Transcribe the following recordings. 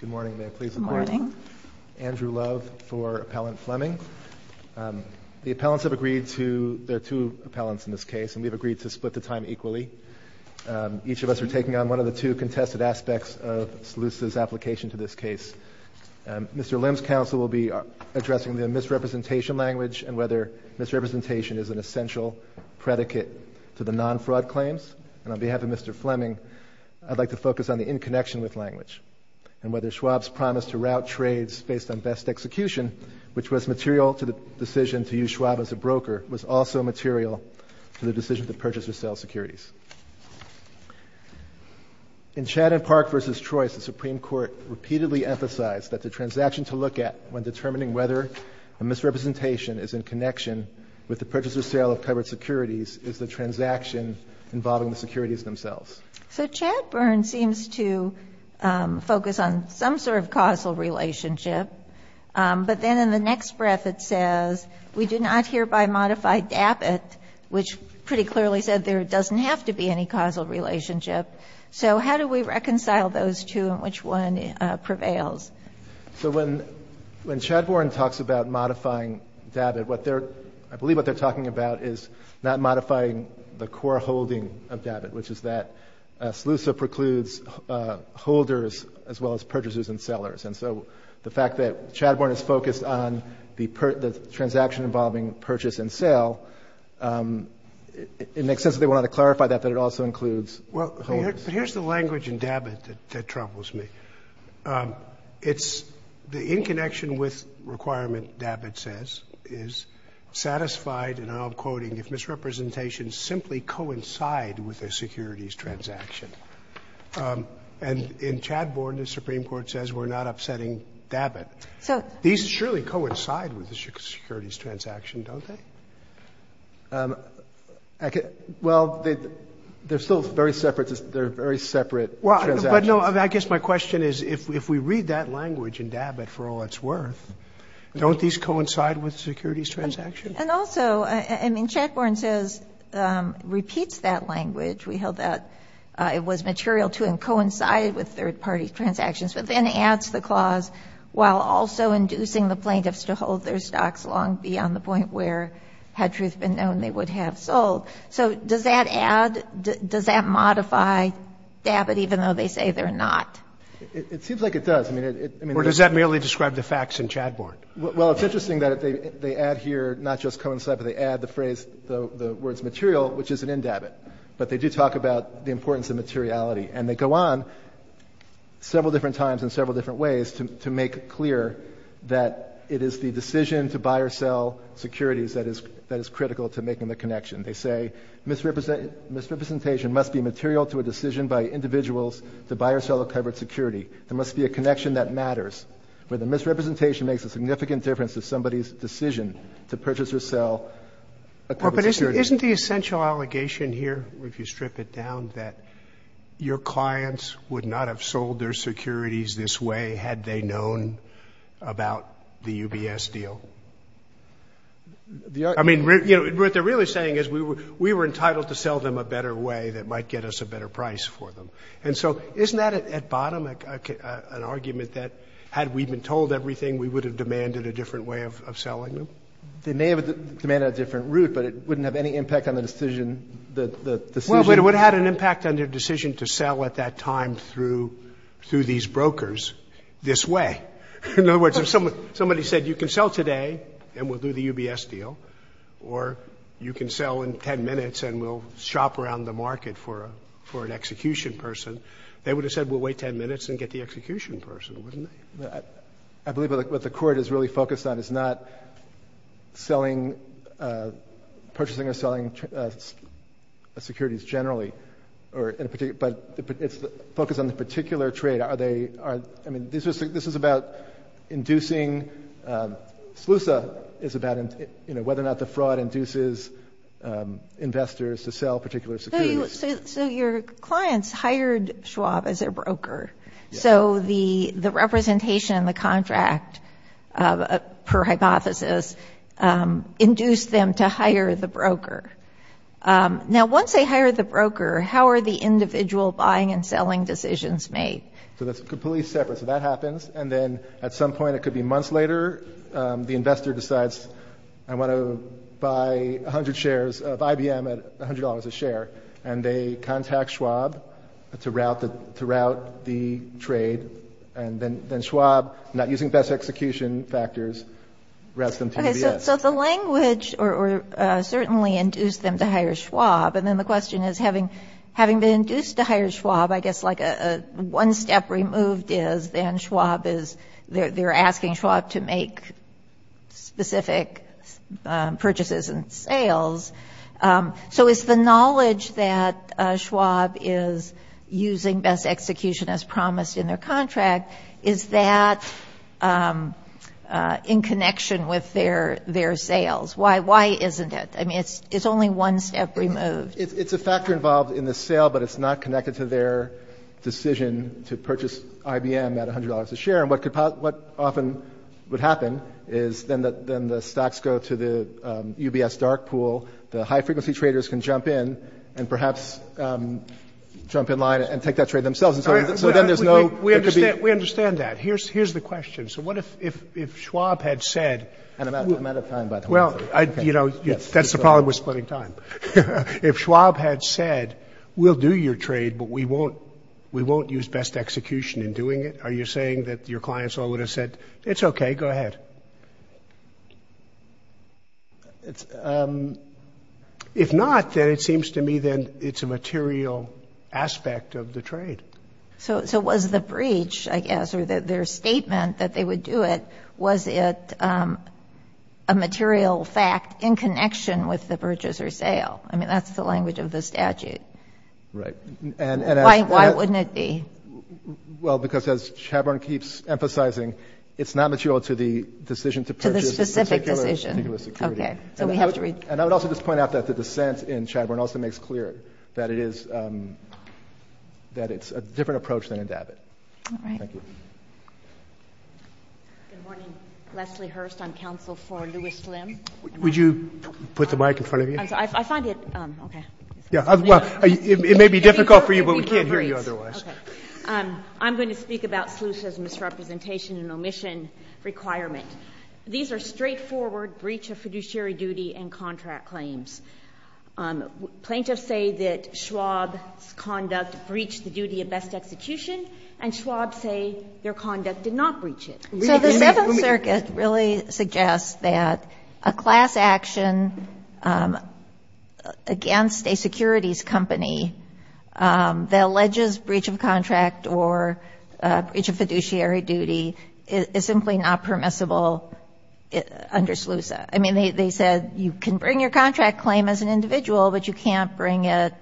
Good morning, may I please invite Andrew Love for Appellant Fleming. The appellants have agreed to, there are two appellants in this case, and we've agreed to split the time equally. Each of us are taking on one of the two contested aspects of SLUSA's application to this case. Mr. Lim's counsel will be addressing the misrepresentation language and whether misrepresentation is an essential predicate to the non-fraud claims. And on behalf of Mr. Schwab's counsel, I'd like to ask Andrew Love to address the misrepresentation language and whether Schwab's promise to route trades based on best execution, which was material to the decision to use Schwab as a broker, was also material to the decision to purchase or sell securities. In Chad and Park v. Troyes, the Supreme Court repeatedly emphasized that the transaction to look at when determining whether a misrepresentation is in connection with the purchase or sale of covered securities is the transaction involving the securities themselves. So Chadbourne seems to focus on some sort of causal relationship, but then in the next breath it says, we do not hereby modify DABIT, which pretty clearly said there doesn't have to be any causal relationship. So how do we reconcile those two and which one prevails? So when Chadbourne talks about modifying DABIT, I believe what they're talking about is not modifying the core holding of DABIT, which is that SLUSA precludes holders as well as purchasers and sellers. And so the fact that Chadbourne is focused on the transaction involving purchase and sale, it makes sense that they wanted to clarify that, that it also includes holders. Well, here's the language in DABIT that troubles me. It's the in connection with requirement, DABIT says, is satisfied, and I'm quoting, if misrepresentation simply coincide with a securities transaction. And in Chadbourne, the Supreme Court says we're not upsetting DABIT. These surely coincide with the securities transaction, don't they? Well, they're still very separate. They're very separate transactions. But no, I guess my question is, if we read that language in DABIT for all it's worth, don't these coincide with securities transactions? And also, I mean, Chadbourne says, repeats that language. We held that it was material to and coincided with third-party transactions, but then adds the clause while also inducing the plaintiffs to hold their stocks long beyond the point where, had truth been known, they would have sold. So does that add, does that modify DABIT, even though they say they're not? It seems like it does. I mean, it — Or does that merely describe the facts in Chadbourne? Well, it's interesting that they add here not just coincide, but they add the phrase, the words material, which isn't in DABIT. But they do talk about the importance of materiality. And they go on several different times in several different ways to make clear that it is the decision to buy or sell securities that is critical to making the connection. They say, misrepresentation must be material to a decision by individuals to buy or sell a covered security. There misrepresentation makes a significant difference to somebody's decision to purchase or sell a covered security. Well, but isn't the essential allegation here, if you strip it down, that your clients would not have sold their securities this way had they known about the UBS deal? I mean, you know, what they're really saying is we were entitled to sell them a better way that might get us a better price for them. And so isn't that, at bottom, an argument that had we been told everything, we would have demanded a different way of selling them? They may have demanded a different route, but it wouldn't have any impact on the decision. Well, but it would have had an impact on their decision to sell at that time through these brokers this way. In other words, if somebody said you can sell today and we'll do the UBS deal, or you can sell in 10 minutes and we'll shop around the market for an execution person, they would have said we'll wait 10 minutes and get the execution person, wouldn't they? I believe what the Court is really focused on is not purchasing or selling securities generally, but it's focused on the particular trade. I mean, this is about inducing, SLUSA is about whether or not the fraud induces investors to sell particular securities. So your clients hired Schwab as their broker. So the representation in the contract, per hypothesis, induced them to hire the broker. Now, once they hired the broker, how are the individual buying and selling decisions made? So that's completely separate. So that happens, and then at some point, it could be months later, the investor decides I want to buy 100 shares of IBM at $100 a share, and they contact Schwab to route the trade, and then Schwab, not using best execution factors, routes them to UBS. Okay, so the language certainly induced them to hire Schwab, and then the question is having been induced to hire Schwab, I guess like a one step removed is they're asking Schwab to make specific purchases and sales. So is the knowledge that Schwab is using best execution as promised in their contract, is that in connection with their sales? Why isn't it? I mean, it's only one step removed. It's a factor involved in the sale, but it's not connected to their decision to buy IBM at $100 a share, and what often would happen is then the stocks go to the UBS dark pool, the high frequency traders can jump in and perhaps jump in line and take that trade themselves, and so then there's no... We understand that. Here's the question. So what if Schwab had said... I'm out of time, by the way. Well, that's the problem with splitting time. If Schwab had said, we'll do your execution in doing it, are you saying that your clients all would have said, it's okay, go ahead? If not, then it seems to me then it's a material aspect of the trade. So was the breach, I guess, or their statement that they would do it, was it a material fact in connection with the purchase or sale? I mean, that's the language of the statute. Right. Why wouldn't it be? Well, because as Chadbourne keeps emphasizing, it's not material to the decision to purchase... To the specific decision. ...particular security. Okay, so we have to read... And I would also just point out that the dissent in Chadbourne also makes clear that it's a different approach than in David. All right. Thank you. Good morning. Leslie Hurst, I'm counsel for Lewis Lim. Would you put the mic in front of you? I find it... Okay. Yeah, well, it may be difficult for you, but we can't hear you otherwise. Okay. I'm going to speak about Sluice's misrepresentation and omission requirement. These are straightforward breach of fiduciary duty and contract claims. Plaintiffs say that Schwab's conduct breached the duty of best execution, and Schwab say their conduct did not breach it. So the Seventh Circuit really suggests that a class action against a securities company that alleges breach of contract or breach of fiduciary duty is simply not permissible under Sluice. I mean, they said you can bring your contract claim as an individual, but you can't bring it...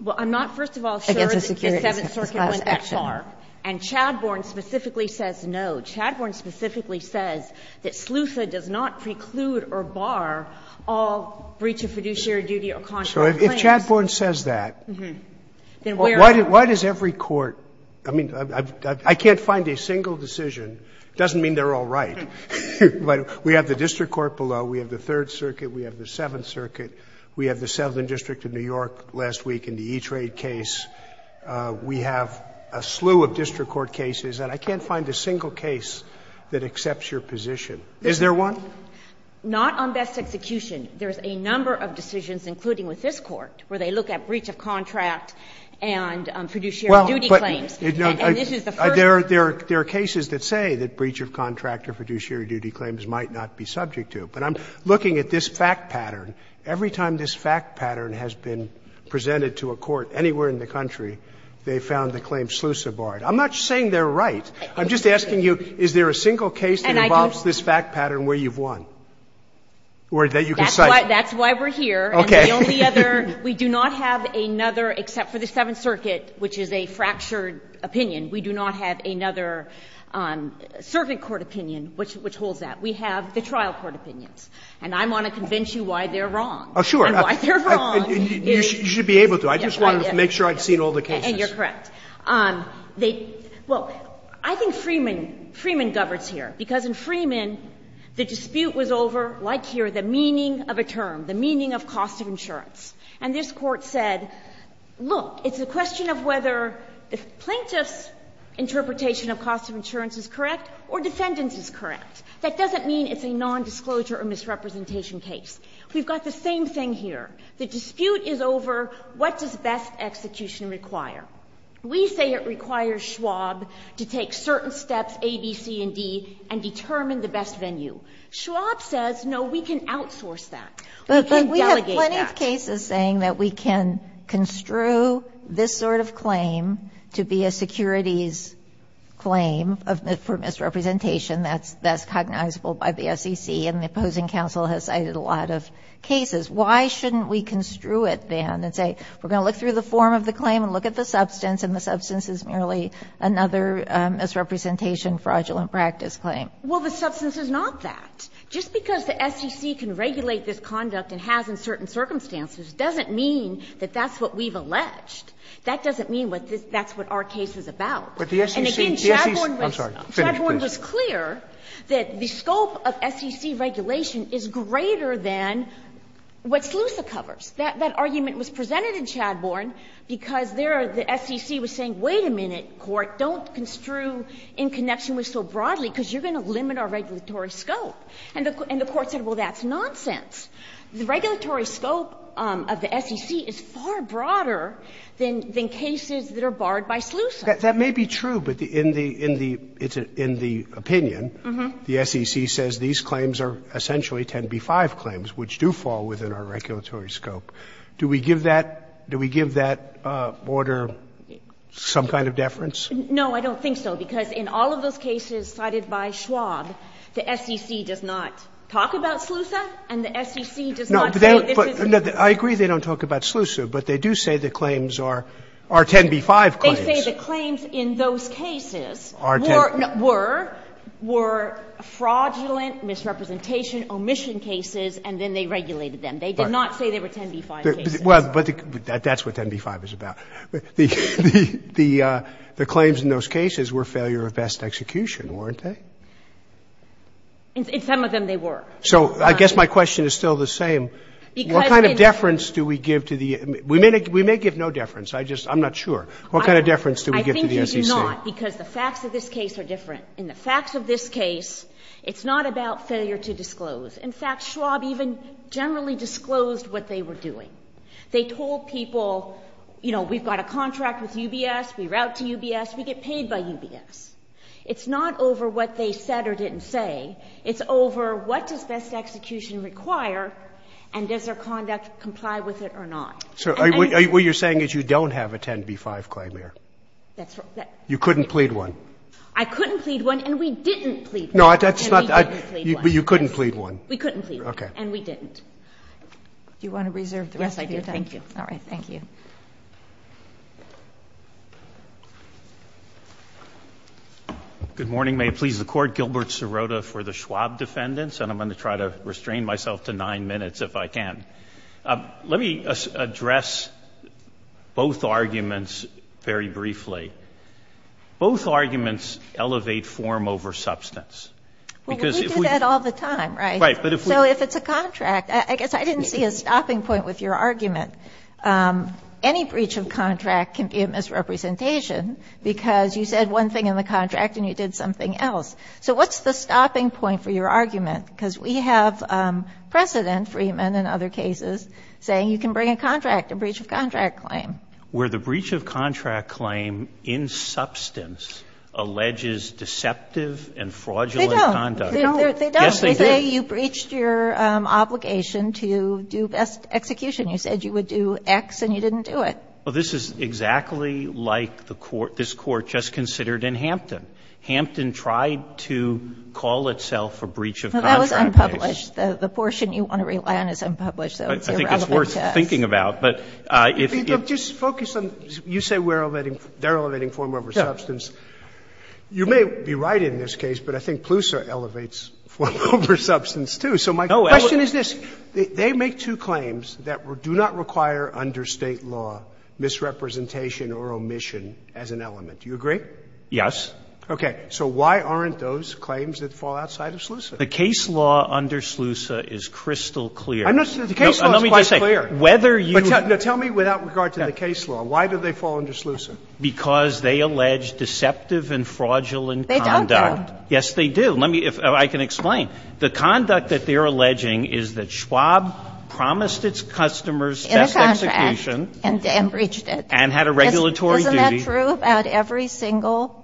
Well, I'm not, first of all, sure that the Seventh Circuit went that far. And Chadbourne specifically says no. Chadbourne specifically says that Sluice does not preclude or bar all breach of fiduciary duty or contract claims. So if Chadbourne says that, why does every court – I mean, I can't find a single decision. It doesn't mean they're all right. But we have the district court below. We have the Third Circuit. We have the Seventh Circuit. We have the Southern District of New York last week in the E-Trade case. We have a slew of district court cases. And I can't find a single case that accepts your position. Is there one? Not on best execution. There's a number of decisions, including with this Court, where they look at breach of contract and fiduciary duty claims. And this is the first. There are cases that say that breach of contract or fiduciary duty claims might not be subject to. But I'm looking at this fact pattern. Every time this fact pattern has been presented to a court anywhere in the country, they found the claim slew so barred. I'm not saying they're right. I'm just asking you, is there a single case that involves this fact pattern where you've won, or that you can cite? That's why we're here. Okay. And the only other – we do not have another, except for the Seventh Circuit, which is a fractured opinion. We do not have another servant court opinion which holds that. We have the trial court opinions. And I want to convince you why they're wrong. And why they're wrong is – Oh, sure. You should be able to. I just wanted to make sure I'd seen all the cases. And you're correct. They – well, I think Freeman governs here, because in Freeman, the dispute was over, like here, the meaning of a term, the meaning of cost of insurance. And this Court said, look, it's a question of whether the plaintiff's interpretation of cost of insurance is correct or defendant's is correct. That doesn't mean it's a nondisclosure or misrepresentation case. We've got the same thing here. The dispute is over what does best execution require. We say it requires Schwab to take certain steps, A, B, C, and D, and determine the best venue. Schwab says, no, we can outsource that. We can delegate that. But we have plenty of cases saying that we can construe this sort of claim to be a securities claim for misrepresentation. And that's cognizable by the SEC. And the opposing counsel has cited a lot of cases. Why shouldn't we construe it, then, and say we're going to look through the form of the claim and look at the substance, and the substance is merely another misrepresentation fraudulent practice claim? Well, the substance is not that. Just because the SEC can regulate this conduct and has in certain circumstances doesn't mean that that's what we've alleged. That doesn't mean that's what our case is about. And again, Schabhorn was clear. That the scope of SEC regulation is greater than what SLUSA covers. That argument was presented in Schabhorn because there the SEC was saying, wait a minute, Court, don't construe in connection with so broadly because you're going to limit our regulatory scope. And the Court said, well, that's nonsense. The regulatory scope of the SEC is far broader than cases that are barred by SLUSA. Sotomayor, that may be true, but in the opinion, the SEC says these claims are essentially 10b-5 claims, which do fall within our regulatory scope. Do we give that order some kind of deference? No, I don't think so, because in all of those cases cited by Schwab, the SEC does not talk about SLUSA, and the SEC does not say this is SLUSA. No, I agree they don't talk about SLUSA, but they do say the claims are 10b-5 claims. They do say the claims in those cases were fraudulent, misrepresentation, omission cases, and then they regulated them. They did not say they were 10b-5 cases. Well, but that's what 10b-5 is about. The claims in those cases were failure of best execution, weren't they? In some of them, they were. So I guess my question is still the same. What kind of deference do we give to the we may give no deference. I just I'm not sure. What kind of deference do we give to the SEC? I think you do not, because the facts of this case are different. In the facts of this case, it's not about failure to disclose. In fact, Schwab even generally disclosed what they were doing. They told people, you know, we've got a contract with UBS, we route to UBS, we get paid by UBS. It's not over what they said or didn't say. It's over what does best execution require and does their conduct comply with it or not. So what you're saying is you don't have a 10b-5 claim here. You couldn't plead one. I couldn't plead one and we didn't plead one. No, but you couldn't plead one. We couldn't plead one and we didn't. Do you want to reserve the rest of your time? Yes, I do. Thank you. All right. Thank you. Good morning. May it please the Court. Gilbert Sirota for the Schwab defendants. And I'm going to try to restrain myself to nine minutes if I can. Let me address both arguments very briefly. Both arguments elevate form over substance. Well, we do that all the time, right? Right. So if it's a contract, I guess I didn't see a stopping point with your argument. Any breach of contract can be a misrepresentation because you said one thing in the contract and you did something else. So what's the stopping point for your argument? Because we have precedent, Freeman and other cases, saying you can bring a contract, a breach of contract claim. Where the breach of contract claim in substance alleges deceptive and fraudulent conduct. They don't. Yes, they do. They say you breached your obligation to do best execution. You said you would do X and you didn't do it. This is exactly like this Court just considered in Hampton. Hampton tried to call itself a breach of contract. That was unpublished. The portion you want to rely on is unpublished, though. I think it's worth thinking about. But if you just focus on you say we're elevating, they're elevating form over substance. You may be right in this case, but I think PLUSA elevates form over substance, too. So my question is this. They make two claims that do not require under State law misrepresentation or omission as an element. Do you agree? Yes. Okay. So why aren't those claims that fall outside of SLUSA? The case law under SLUSA is crystal clear. I'm not saying the case law is quite clear. Let me just say, whether you – But tell me without regard to the case law, why do they fall under SLUSA? Because they allege deceptive and fraudulent conduct. They don't do. Yes, they do. Let me – if I can explain. The conduct that they're alleging is that Schwab promised its customers best execution In the contract and breached it. And had a regulatory duty. Isn't that true about every single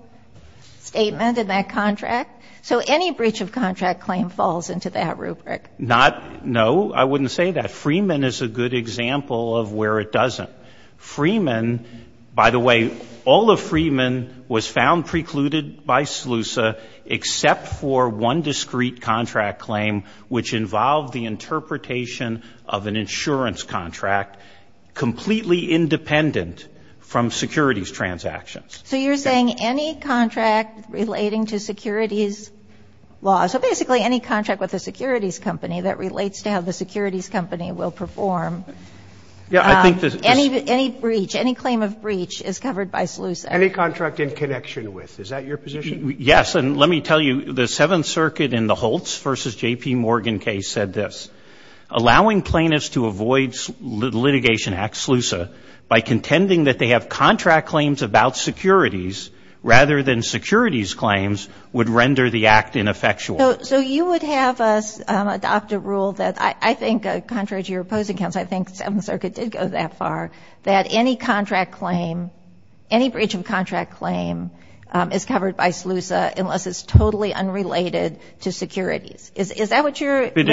statement in that contract? So any breach of contract claim falls into that rubric. Not – no, I wouldn't say that. Freeman is a good example of where it doesn't. Freeman – by the way, all of Freeman was found precluded by SLUSA, except for one discrete contract claim, which involved the interpretation of an insurance contract, completely independent from securities transactions. So you're saying any contract relating to securities law – so basically any contract with a securities company that relates to how the securities company will perform. Yeah, I think this – Any breach, any claim of breach is covered by SLUSA. Any contract in connection with. Is that your position? Yes. And let me tell you, the Seventh Circuit in the Holtz v. J.P. Morgan case said this. Allowing plaintiffs to avoid litigation at SLUSA by contending that they have contract claims about securities rather than securities claims would render the act ineffectual. So you would have us adopt a rule that – I think contrary to your opposing counsel, I think the Seventh Circuit did go that far, that any contract claim – any breach of contract claim is covered by SLUSA unless it's totally unrelated to securities. Is that what you're – If it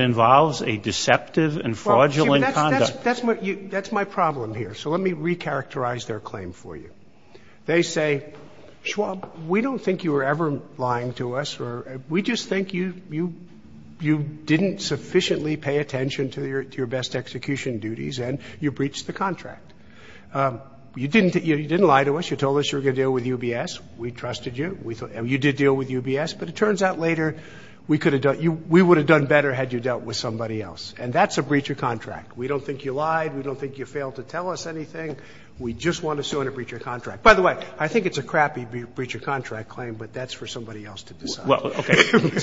involves a deceptive and fraudulent conduct. That's my problem here. So let me recharacterize their claim for you. They say, Schwab, we don't think you were ever lying to us. We just think you didn't sufficiently pay attention to your best execution duties and you breached the contract. You didn't lie to us. You told us you were going to deal with UBS. We trusted you. You did deal with UBS. But it turns out later we could have done – we would have done better had you dealt with somebody else. And that's a breach of contract. We don't think you lied. We don't think you failed to tell us anything. We just want to sue on a breach of contract. By the way, I think it's a crappy breach of contract claim, but that's for somebody else to decide.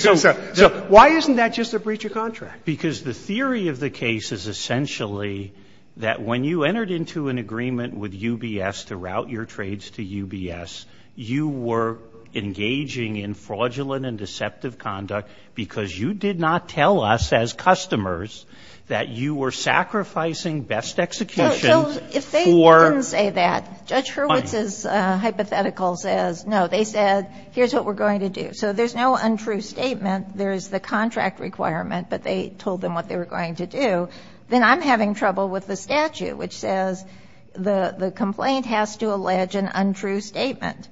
So why isn't that just a breach of contract? Because the theory of the case is essentially that when you entered into an agreement with UBS to route your trades to UBS, you were engaging in fraudulent and deceptive conduct because you did not tell us as customers that you were sacrificing best execution for – So if they didn't say that, Judge Hurwitz's hypothetical says, no, they said here's what we're going to do. So there's no untrue statement. There is the contract requirement, but they told them what they were going to do. Then I'm having trouble with the statute, which says the complaint has to allege an untrue statement.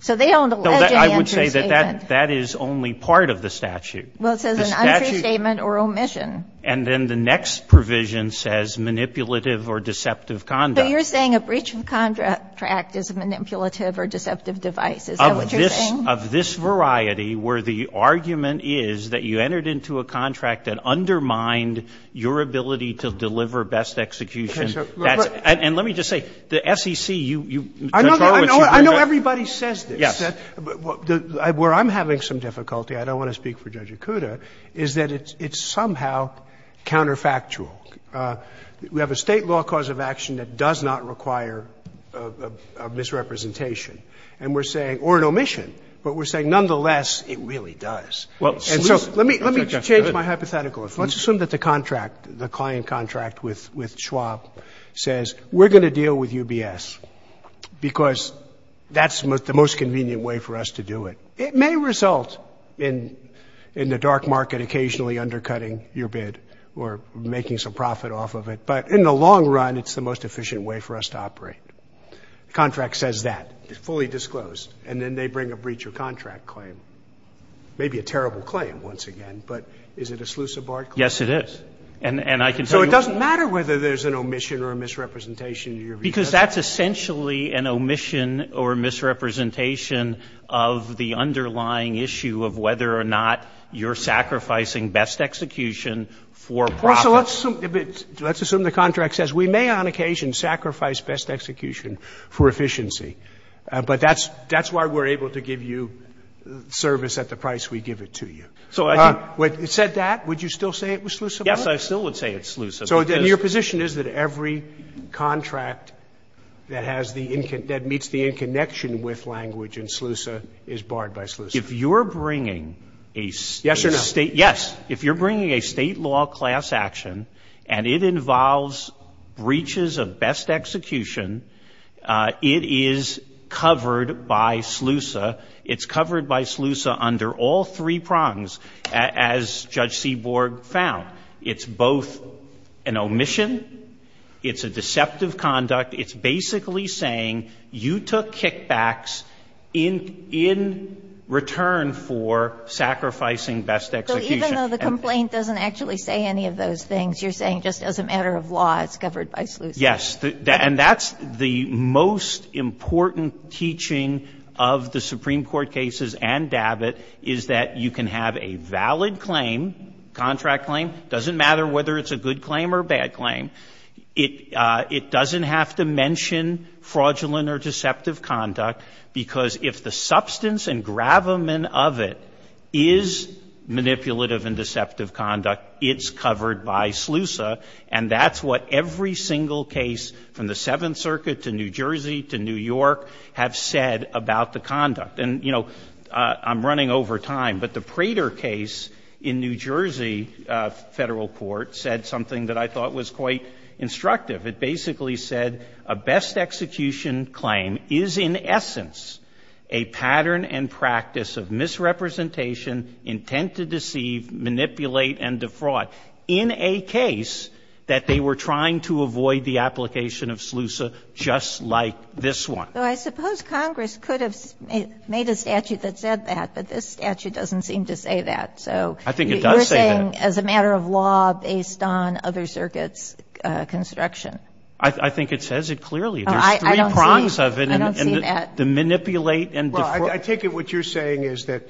So they don't allege an untrue statement. I would say that that is only part of the statute. Well, it says an untrue statement or omission. And then the next provision says manipulative or deceptive conduct. So you're saying a breach of contract is a manipulative or deceptive device. Is that what you're saying? Of this variety where the argument is that you entered into a contract that undermined your ability to deliver best execution. And let me just say, the SEC, you – I know everybody says this. Where I'm having some difficulty, I don't want to speak for Judge Okuda, is that it's somehow counterfactual. We have a State law cause of action that does not require a misrepresentation and we're saying – or an omission. But we're saying nonetheless, it really does. And so let me change my hypothetical. Let's assume that the contract, the client contract with Schwab says, we're going to deal with UBS because that's the most convenient way for us to do it. It may result in the dark market occasionally undercutting your bid or making some profit off of it. But in the long run, it's the most efficient way for us to operate. Contract says that. It's fully disclosed. And then they bring a breach of contract claim. Maybe a terrible claim once again, but is it a Slusabart claim? Yes, it is. And I can tell you – Because that's essentially an omission or misrepresentation of the underlying issue of whether or not you're sacrificing best execution for profit. Let's assume the contract says, we may on occasion sacrifice best execution for efficiency. But that's why we're able to give you service at the price we give it to you. So it said that. Would you still say it was Slusabart? Yes, I still would say it's Slusabart. So your position is that every contract that has the – that meets the in-connection with language in SLUSA is barred by SLUSA? If you're bringing a State – Yes or no? Yes. If you're bringing a State law class action, and it involves breaches of best execution, it is covered by SLUSA. It's covered by SLUSA under all three prongs, as Judge Seaborg found. It's both an omission, it's a deceptive conduct, it's basically saying you took kickbacks in return for sacrificing best execution. So even though the complaint doesn't actually say any of those things, you're saying just as a matter of law, it's covered by SLUSA? Yes. And that's the most important teaching of the Supreme Court cases and DABIT is that you can have a valid claim, contract claim, doesn't matter whether it's a good claim or a bad claim. It doesn't have to mention fraudulent or deceptive conduct because if the substance and gravamen of it is manipulative and deceptive conduct, it's covered by SLUSA. And that's what every single case from the Seventh Circuit to New Jersey to New York have said about the conduct. And, you know, I'm running over time, but the Prater case in New Jersey Federal Court said something that I thought was quite instructive. It basically said a best execution claim is in essence a pattern and practice of misrepresentation, intent to deceive, manipulate, and defraud in a case that they were trying to avoid the application of SLUSA just like this one. Though I suppose Congress could have made a statute that said that, but this statute doesn't seem to say that. So you're saying as a matter of law based on other circuits' construction. I think it says it clearly. There's three prongs of it. I don't see that. The manipulate and defraud. I take it what you're saying is that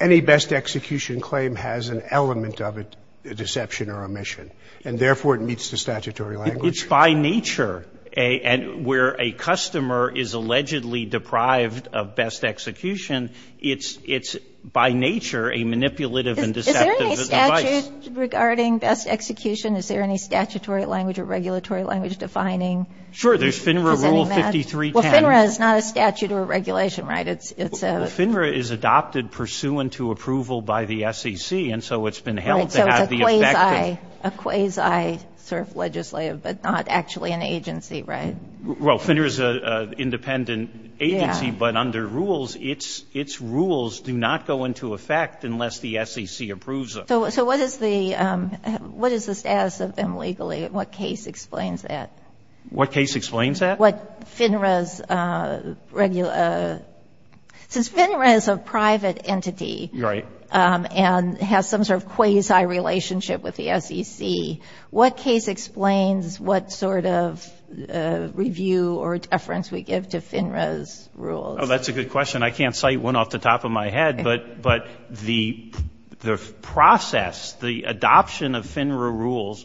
any best execution claim has an element of a deception or omission and therefore it meets the statutory language. It's by nature and where a customer is allegedly deprived of best execution, it's by nature a manipulative and deceptive device. Is there any statute regarding best execution? Is there any statutory language or regulatory language defining? There's FINRA rule 5310. Well, FINRA is not a statute or a regulation, right? Well, FINRA is adopted pursuant to approval by the SEC. And so it's been held to have the effect of. A quasi sort of legislative, but not actually an agency, right? Well, FINRA is an independent agency. But under rules, its rules do not go into effect unless the SEC approves them. So what is the status of them legally? What case explains that? What case explains that? What FINRA's regular – since FINRA is a private entity. Right. And has some sort of quasi relationship with the SEC. What case explains what sort of review or deference we give to FINRA's rules? Oh, that's a good question. I can't cite one off the top of my head, but the process, the adoption of FINRA rules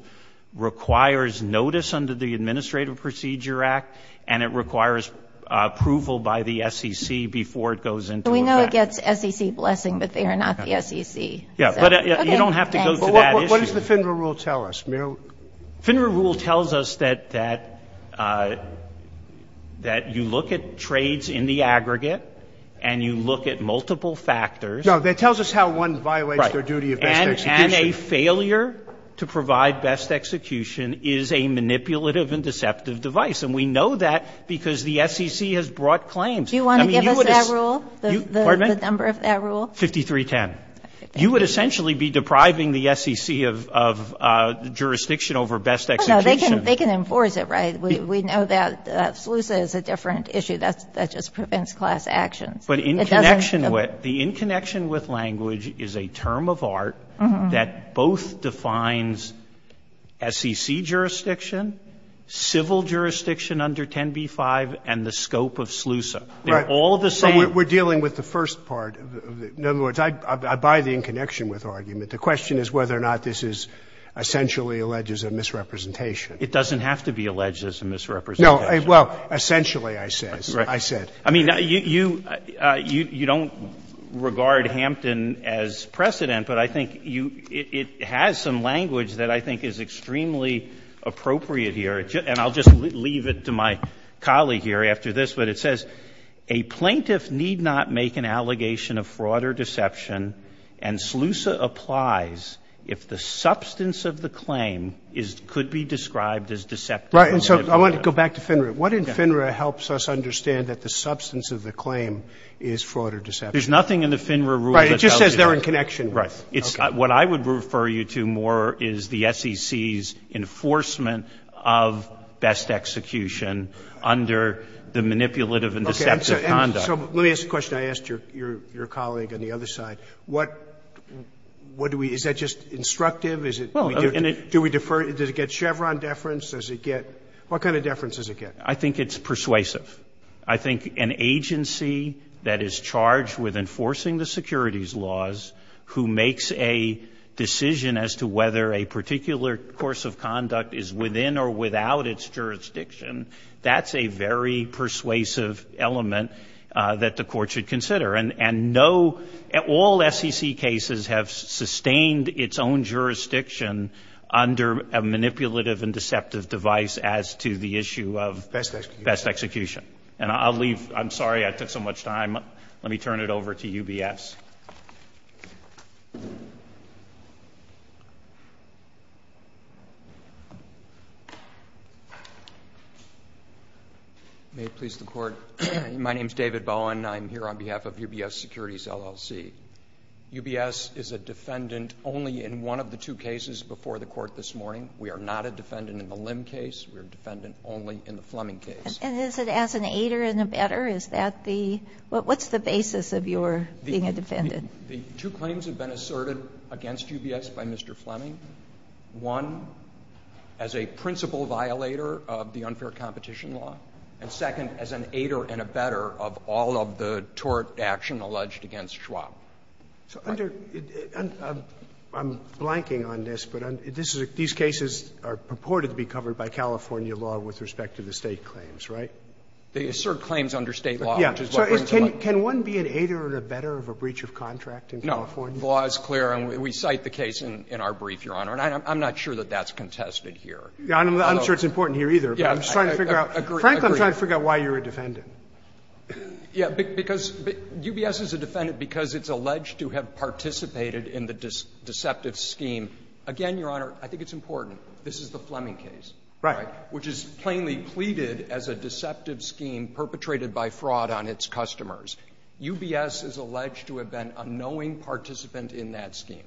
requires notice under the Administrative Procedure Act and it requires approval by the SEC before it goes into effect. So we know it gets SEC blessing, but they are not the SEC. Yeah, but you don't have to go to that issue. But what does the FINRA rule tell us? FINRA rule tells us that you look at trades in the aggregate and you look at multiple factors. No, that tells us how one violates their duty of best execution. And a failure to provide best execution is a manipulative and deceptive device. And we know that because the SEC has brought claims. Do you want to give us that rule? The number of that rule? 5310. You would essentially be depriving the SEC of jurisdiction over best execution. No, they can enforce it, right? We know that SLUSA is a different issue. That just prevents class actions. But in connection with the in connection with language is a term of art that both defines SEC jurisdiction, civil jurisdiction under 10b-5, and the scope of SLUSA. They're all the same. So we're dealing with the first part. In other words, I buy the in connection with argument. The question is whether or not this is essentially alleged as a misrepresentation. It doesn't have to be alleged as a misrepresentation. No. Well, essentially, I said. Right. I said. I mean, you don't regard Hampton as precedent, but I think you — it has some language that I think is extremely appropriate here. And I'll just leave it to my colleague here after this, but it says a plaintiff need not make an allegation of fraud or deception, and SLUSA applies if the substance of the claim is — could be described as deceptive. Right. And so I want to go back to FINRA. What in FINRA helps us understand that the substance of the claim is fraud or deception? There's nothing in the FINRA rule that tells you that. Right. It just says they're in connection. Right. Okay. What I would refer you to more is the SEC's enforcement of best execution under the manipulative and deceptive conduct. So let me ask a question I asked your colleague on the other side. What do we — is that just instructive? Is it — do we defer? Does it get Chevron deference? Does it get — what kind of deference does it get? I think it's persuasive. I think an agency that is charged with enforcing the securities laws, who makes a decision as to whether a particular course of conduct is within or without its jurisdiction, that's a very persuasive element that the court should consider. And no — all SEC cases have sustained its own jurisdiction under a manipulative and deceptive device as to the issue of — Best execution. And I'll leave — I'm sorry I took so much time. Let me turn it over to UBS. May it please the Court. My name is David Bowen. I'm here on behalf of UBS Securities, LLC. UBS is a defendant only in one of the two cases before the Court this morning. We are not a defendant in the Lim case. We are a defendant only in the Fleming case. And is it as an aider and abetter? Is that the — what's the basis of your being a defendant? The two claims have been asserted against UBS by Mr. Fleming, one, as a principal violator of the unfair competition law, and second, as an aider and abetter of all of the tort action alleged against Schwab. So under — I'm blanking on this, but this is — these cases are purported to be covered by California law with respect to the State claims, right? They assert claims under State law, which is what brings them up. Yeah. So can one be an aider and abetter of a breach of contract in California? No. The law is clear, and we cite the case in our brief, Your Honor. And I'm not sure that that's contested here. I'm sure it's important here, either. Yeah. I'm just trying to figure out — frankly, I'm trying to figure out why you're a defendant. Yeah. Because UBS is a defendant because it's alleged to have participated in the deceptive scheme. Again, Your Honor, I think it's important. This is the Fleming case, which is plainly pleaded as a deceptive scheme perpetrated by fraud on its customers. UBS is alleged to have been a knowing participant in that scheme.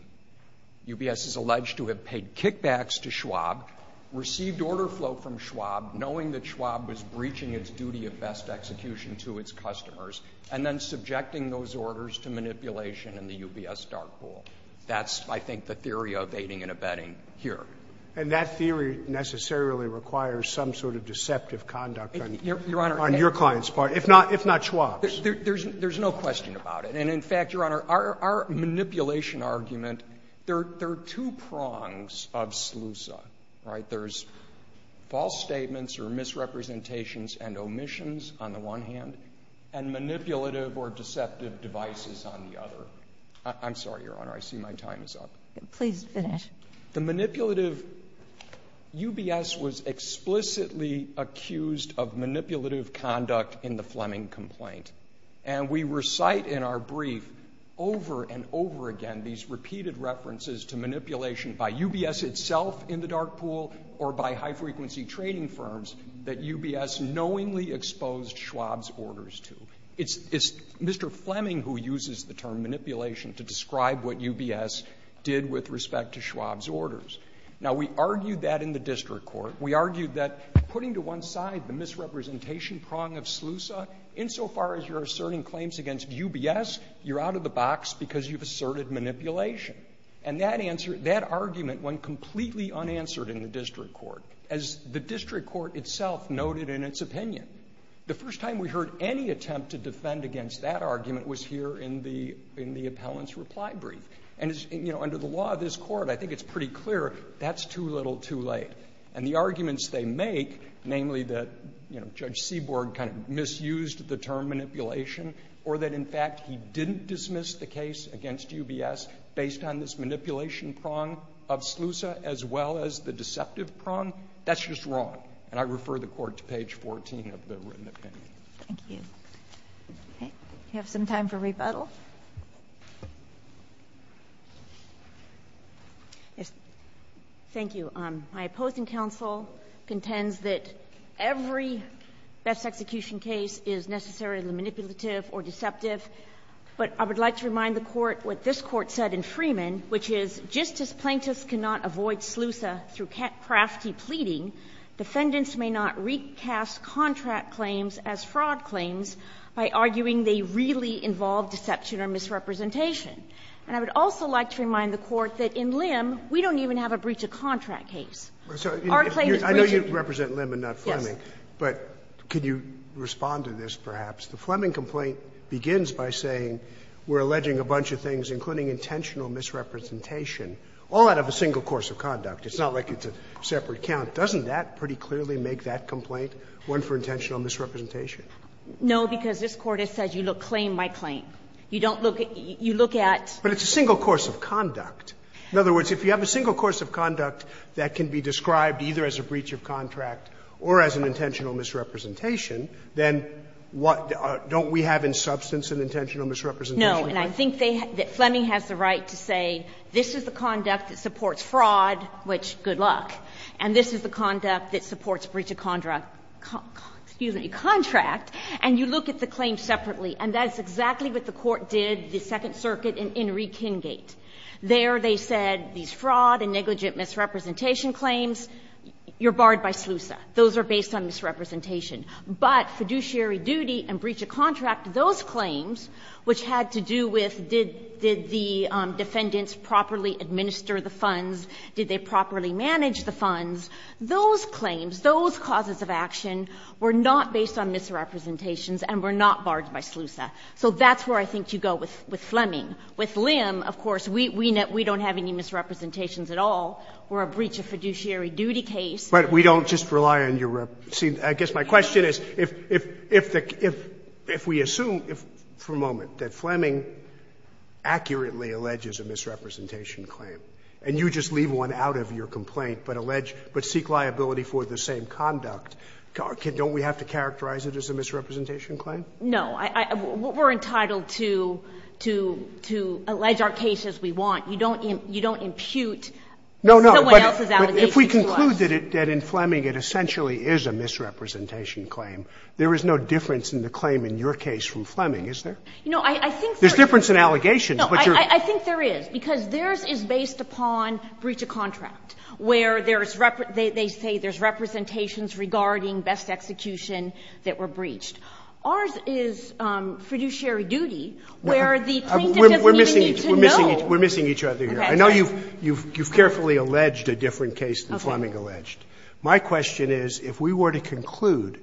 UBS is alleged to have paid kickbacks to Schwab, received order flow from Schwab, knowing that Schwab was breaching its duty of best execution to its customers, and then subjecting those orders to manipulation in the UBS dark pool. That's, I think, the theory of aiding and abetting here. And that theory necessarily requires some sort of deceptive conduct on your client's part, if not Schwab's. There's no question about it. And in fact, Your Honor, our manipulation argument, there are two prongs of SLUSA, right? There's false statements or misrepresentations and omissions on the one hand, and manipulative or deceptive devices on the other. I'm sorry, Your Honor. I see my time is up. Please finish. The manipulative UBS was explicitly accused of manipulative conduct in the Fleming complaint. And we recite in our brief over and over again these repeated references to manipulation by UBS itself in the dark pool or by high-frequency trading firms that UBS knowingly exposed Schwab's orders to. It's Mr. Fleming who uses the term manipulation to describe what UBS did with respect to Schwab's orders. Now, we argued that in the district court. We argued that putting to one side the misrepresentation prong of SLUSA, insofar as you're asserting claims against UBS, you're out of the box because you've asserted manipulation. And that argument went completely unanswered in the district court. As the district court itself noted in its opinion, the first time we heard any attempt to defend against that argument was here in the appellant's reply brief. And, you know, under the law of this court, I think it's pretty clear that's too little, too late. And the arguments they make, namely that, you know, Judge Seaborg kind of misused the term manipulation or that, in fact, he didn't dismiss the case against UBS based on this manipulation prong of SLUSA as well as the deceptive prong, that's just wrong. And I refer the court to page 14 of the written opinion. Thank you. Okay. Do you have some time for rebuttal? Yes. Thank you. My opposing counsel contends that every best execution case is necessarily manipulative or deceptive. But I would like to remind the Court what this Court said in Freeman, which is, just as plaintiffs cannot avoid SLUSA through crafty pleading, defendants may not recast contract claims as fraud claims by arguing they really involve deception or misrepresentation. And I would also like to remind the Court that in Lim, we don't even have a breach of contract case. Our claim is rigid. I know you represent Lim and not Fleming. Yes. But could you respond to this, perhaps? The Fleming complaint begins by saying we're alleging a bunch of things, including intentional misrepresentation, all out of a single course of conduct. It's not like it's a separate count. Doesn't that pretty clearly make that complaint one for intentional misrepresentation? No, because this Court has said you look claim by claim. You don't look at — you look at — But it's a single course of conduct. In other words, if you have a single course of conduct that can be described either as a breach of contract or as an intentional misrepresentation, then what — don't we have in substance an intentional misrepresentation? No. And I think they — that Fleming has the right to say this is the conduct that supports fraud, which, good luck. And this is the conduct that supports breach of contract — excuse me, contract. And you look at the claim separately. And that's exactly what the Court did, the Second Circuit, in — in Rekingate. There they said these fraud and negligent misrepresentation claims, you're barred by SLUSA. Those are based on misrepresentation. But fiduciary duty and breach of contract, those claims, which had to do with did — did the defendants properly administer the funds, did they properly manage the funds, those claims, those causes of action were not based on misrepresentations and were not barred by SLUSA. So that's where I think you go with — with Fleming. With Lim, of course, we — we don't have any misrepresentations at all. We're a breach of fiduciary duty case. But we don't just rely on your — see, I guess my question is, if — if — if we assume, for a moment, that Fleming accurately alleges a misrepresentation claim, and you just leave one out of your complaint, but allege — but seek liability for the same conduct, don't we have to characterize it as a misrepresentation claim? No. I — we're entitled to — to — to allege our case as we want. You don't — you don't impute someone else's allegation to us. No, no. But if we conclude that in Fleming it essentially is a misrepresentation claim, there is no difference in the claim in your case from Fleming, is there? You know, I think there is. There's difference in allegations, but you're — I think there is, because theirs is based upon breach of contract, where there's — they say there's representations regarding best execution that were breached. Ours is fiduciary duty, where the plaintiff doesn't even need to know. We're missing each other here. I know you've carefully alleged a different case than Fleming alleged. My question is, if we were to conclude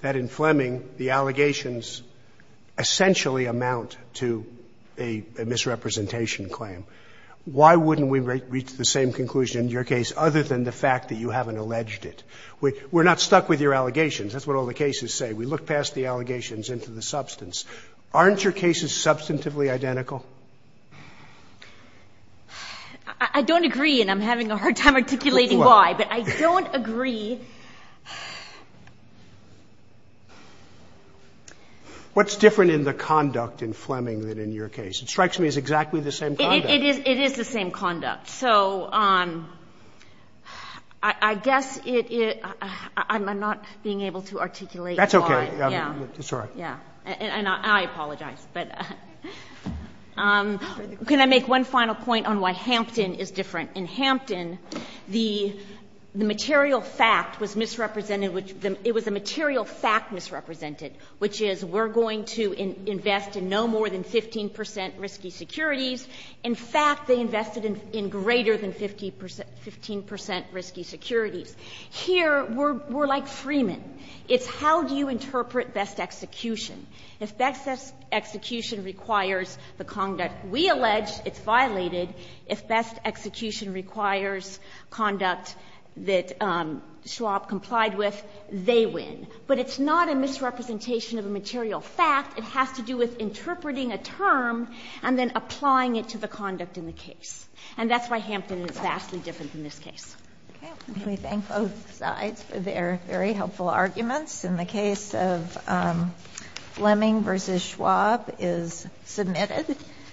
that in Fleming the allegations essentially amount to a misrepresentation claim, why wouldn't we reach the same conclusion in your case, other than the fact that you haven't alleged it? We're not stuck with your allegations. That's what all the cases say. We look past the allegations into the substance. Aren't your cases substantively identical? I don't agree, and I'm having a hard time articulating why, but I don't agree. What's different in the conduct in Fleming than in your case? It strikes me as exactly the same conduct. It is the same conduct. So I guess it — I'm not being able to articulate why. That's okay. Yeah. Sorry. Yeah. And I apologize, but — can I make one final point on why Hampton is different? In Hampton, the material fact was misrepresented — it was a material fact misrepresented, which is we're going to invest in no more than 15 percent risky securities. In fact, they invested in greater than 15 percent risky securities. Here, we're like Freeman. It's how do you interpret best execution. If best execution requires the conduct we allege, it's violated. If best execution requires conduct that Schwab complied with, they win. But it's not a misrepresentation of a material fact. It has to do with interpreting a term and then applying it to the conduct in the case. And that's why Hampton is vastly different than this case. Okay. Let me thank both sides for their very helpful arguments. In the case of Fleming v. Schwab is submitted.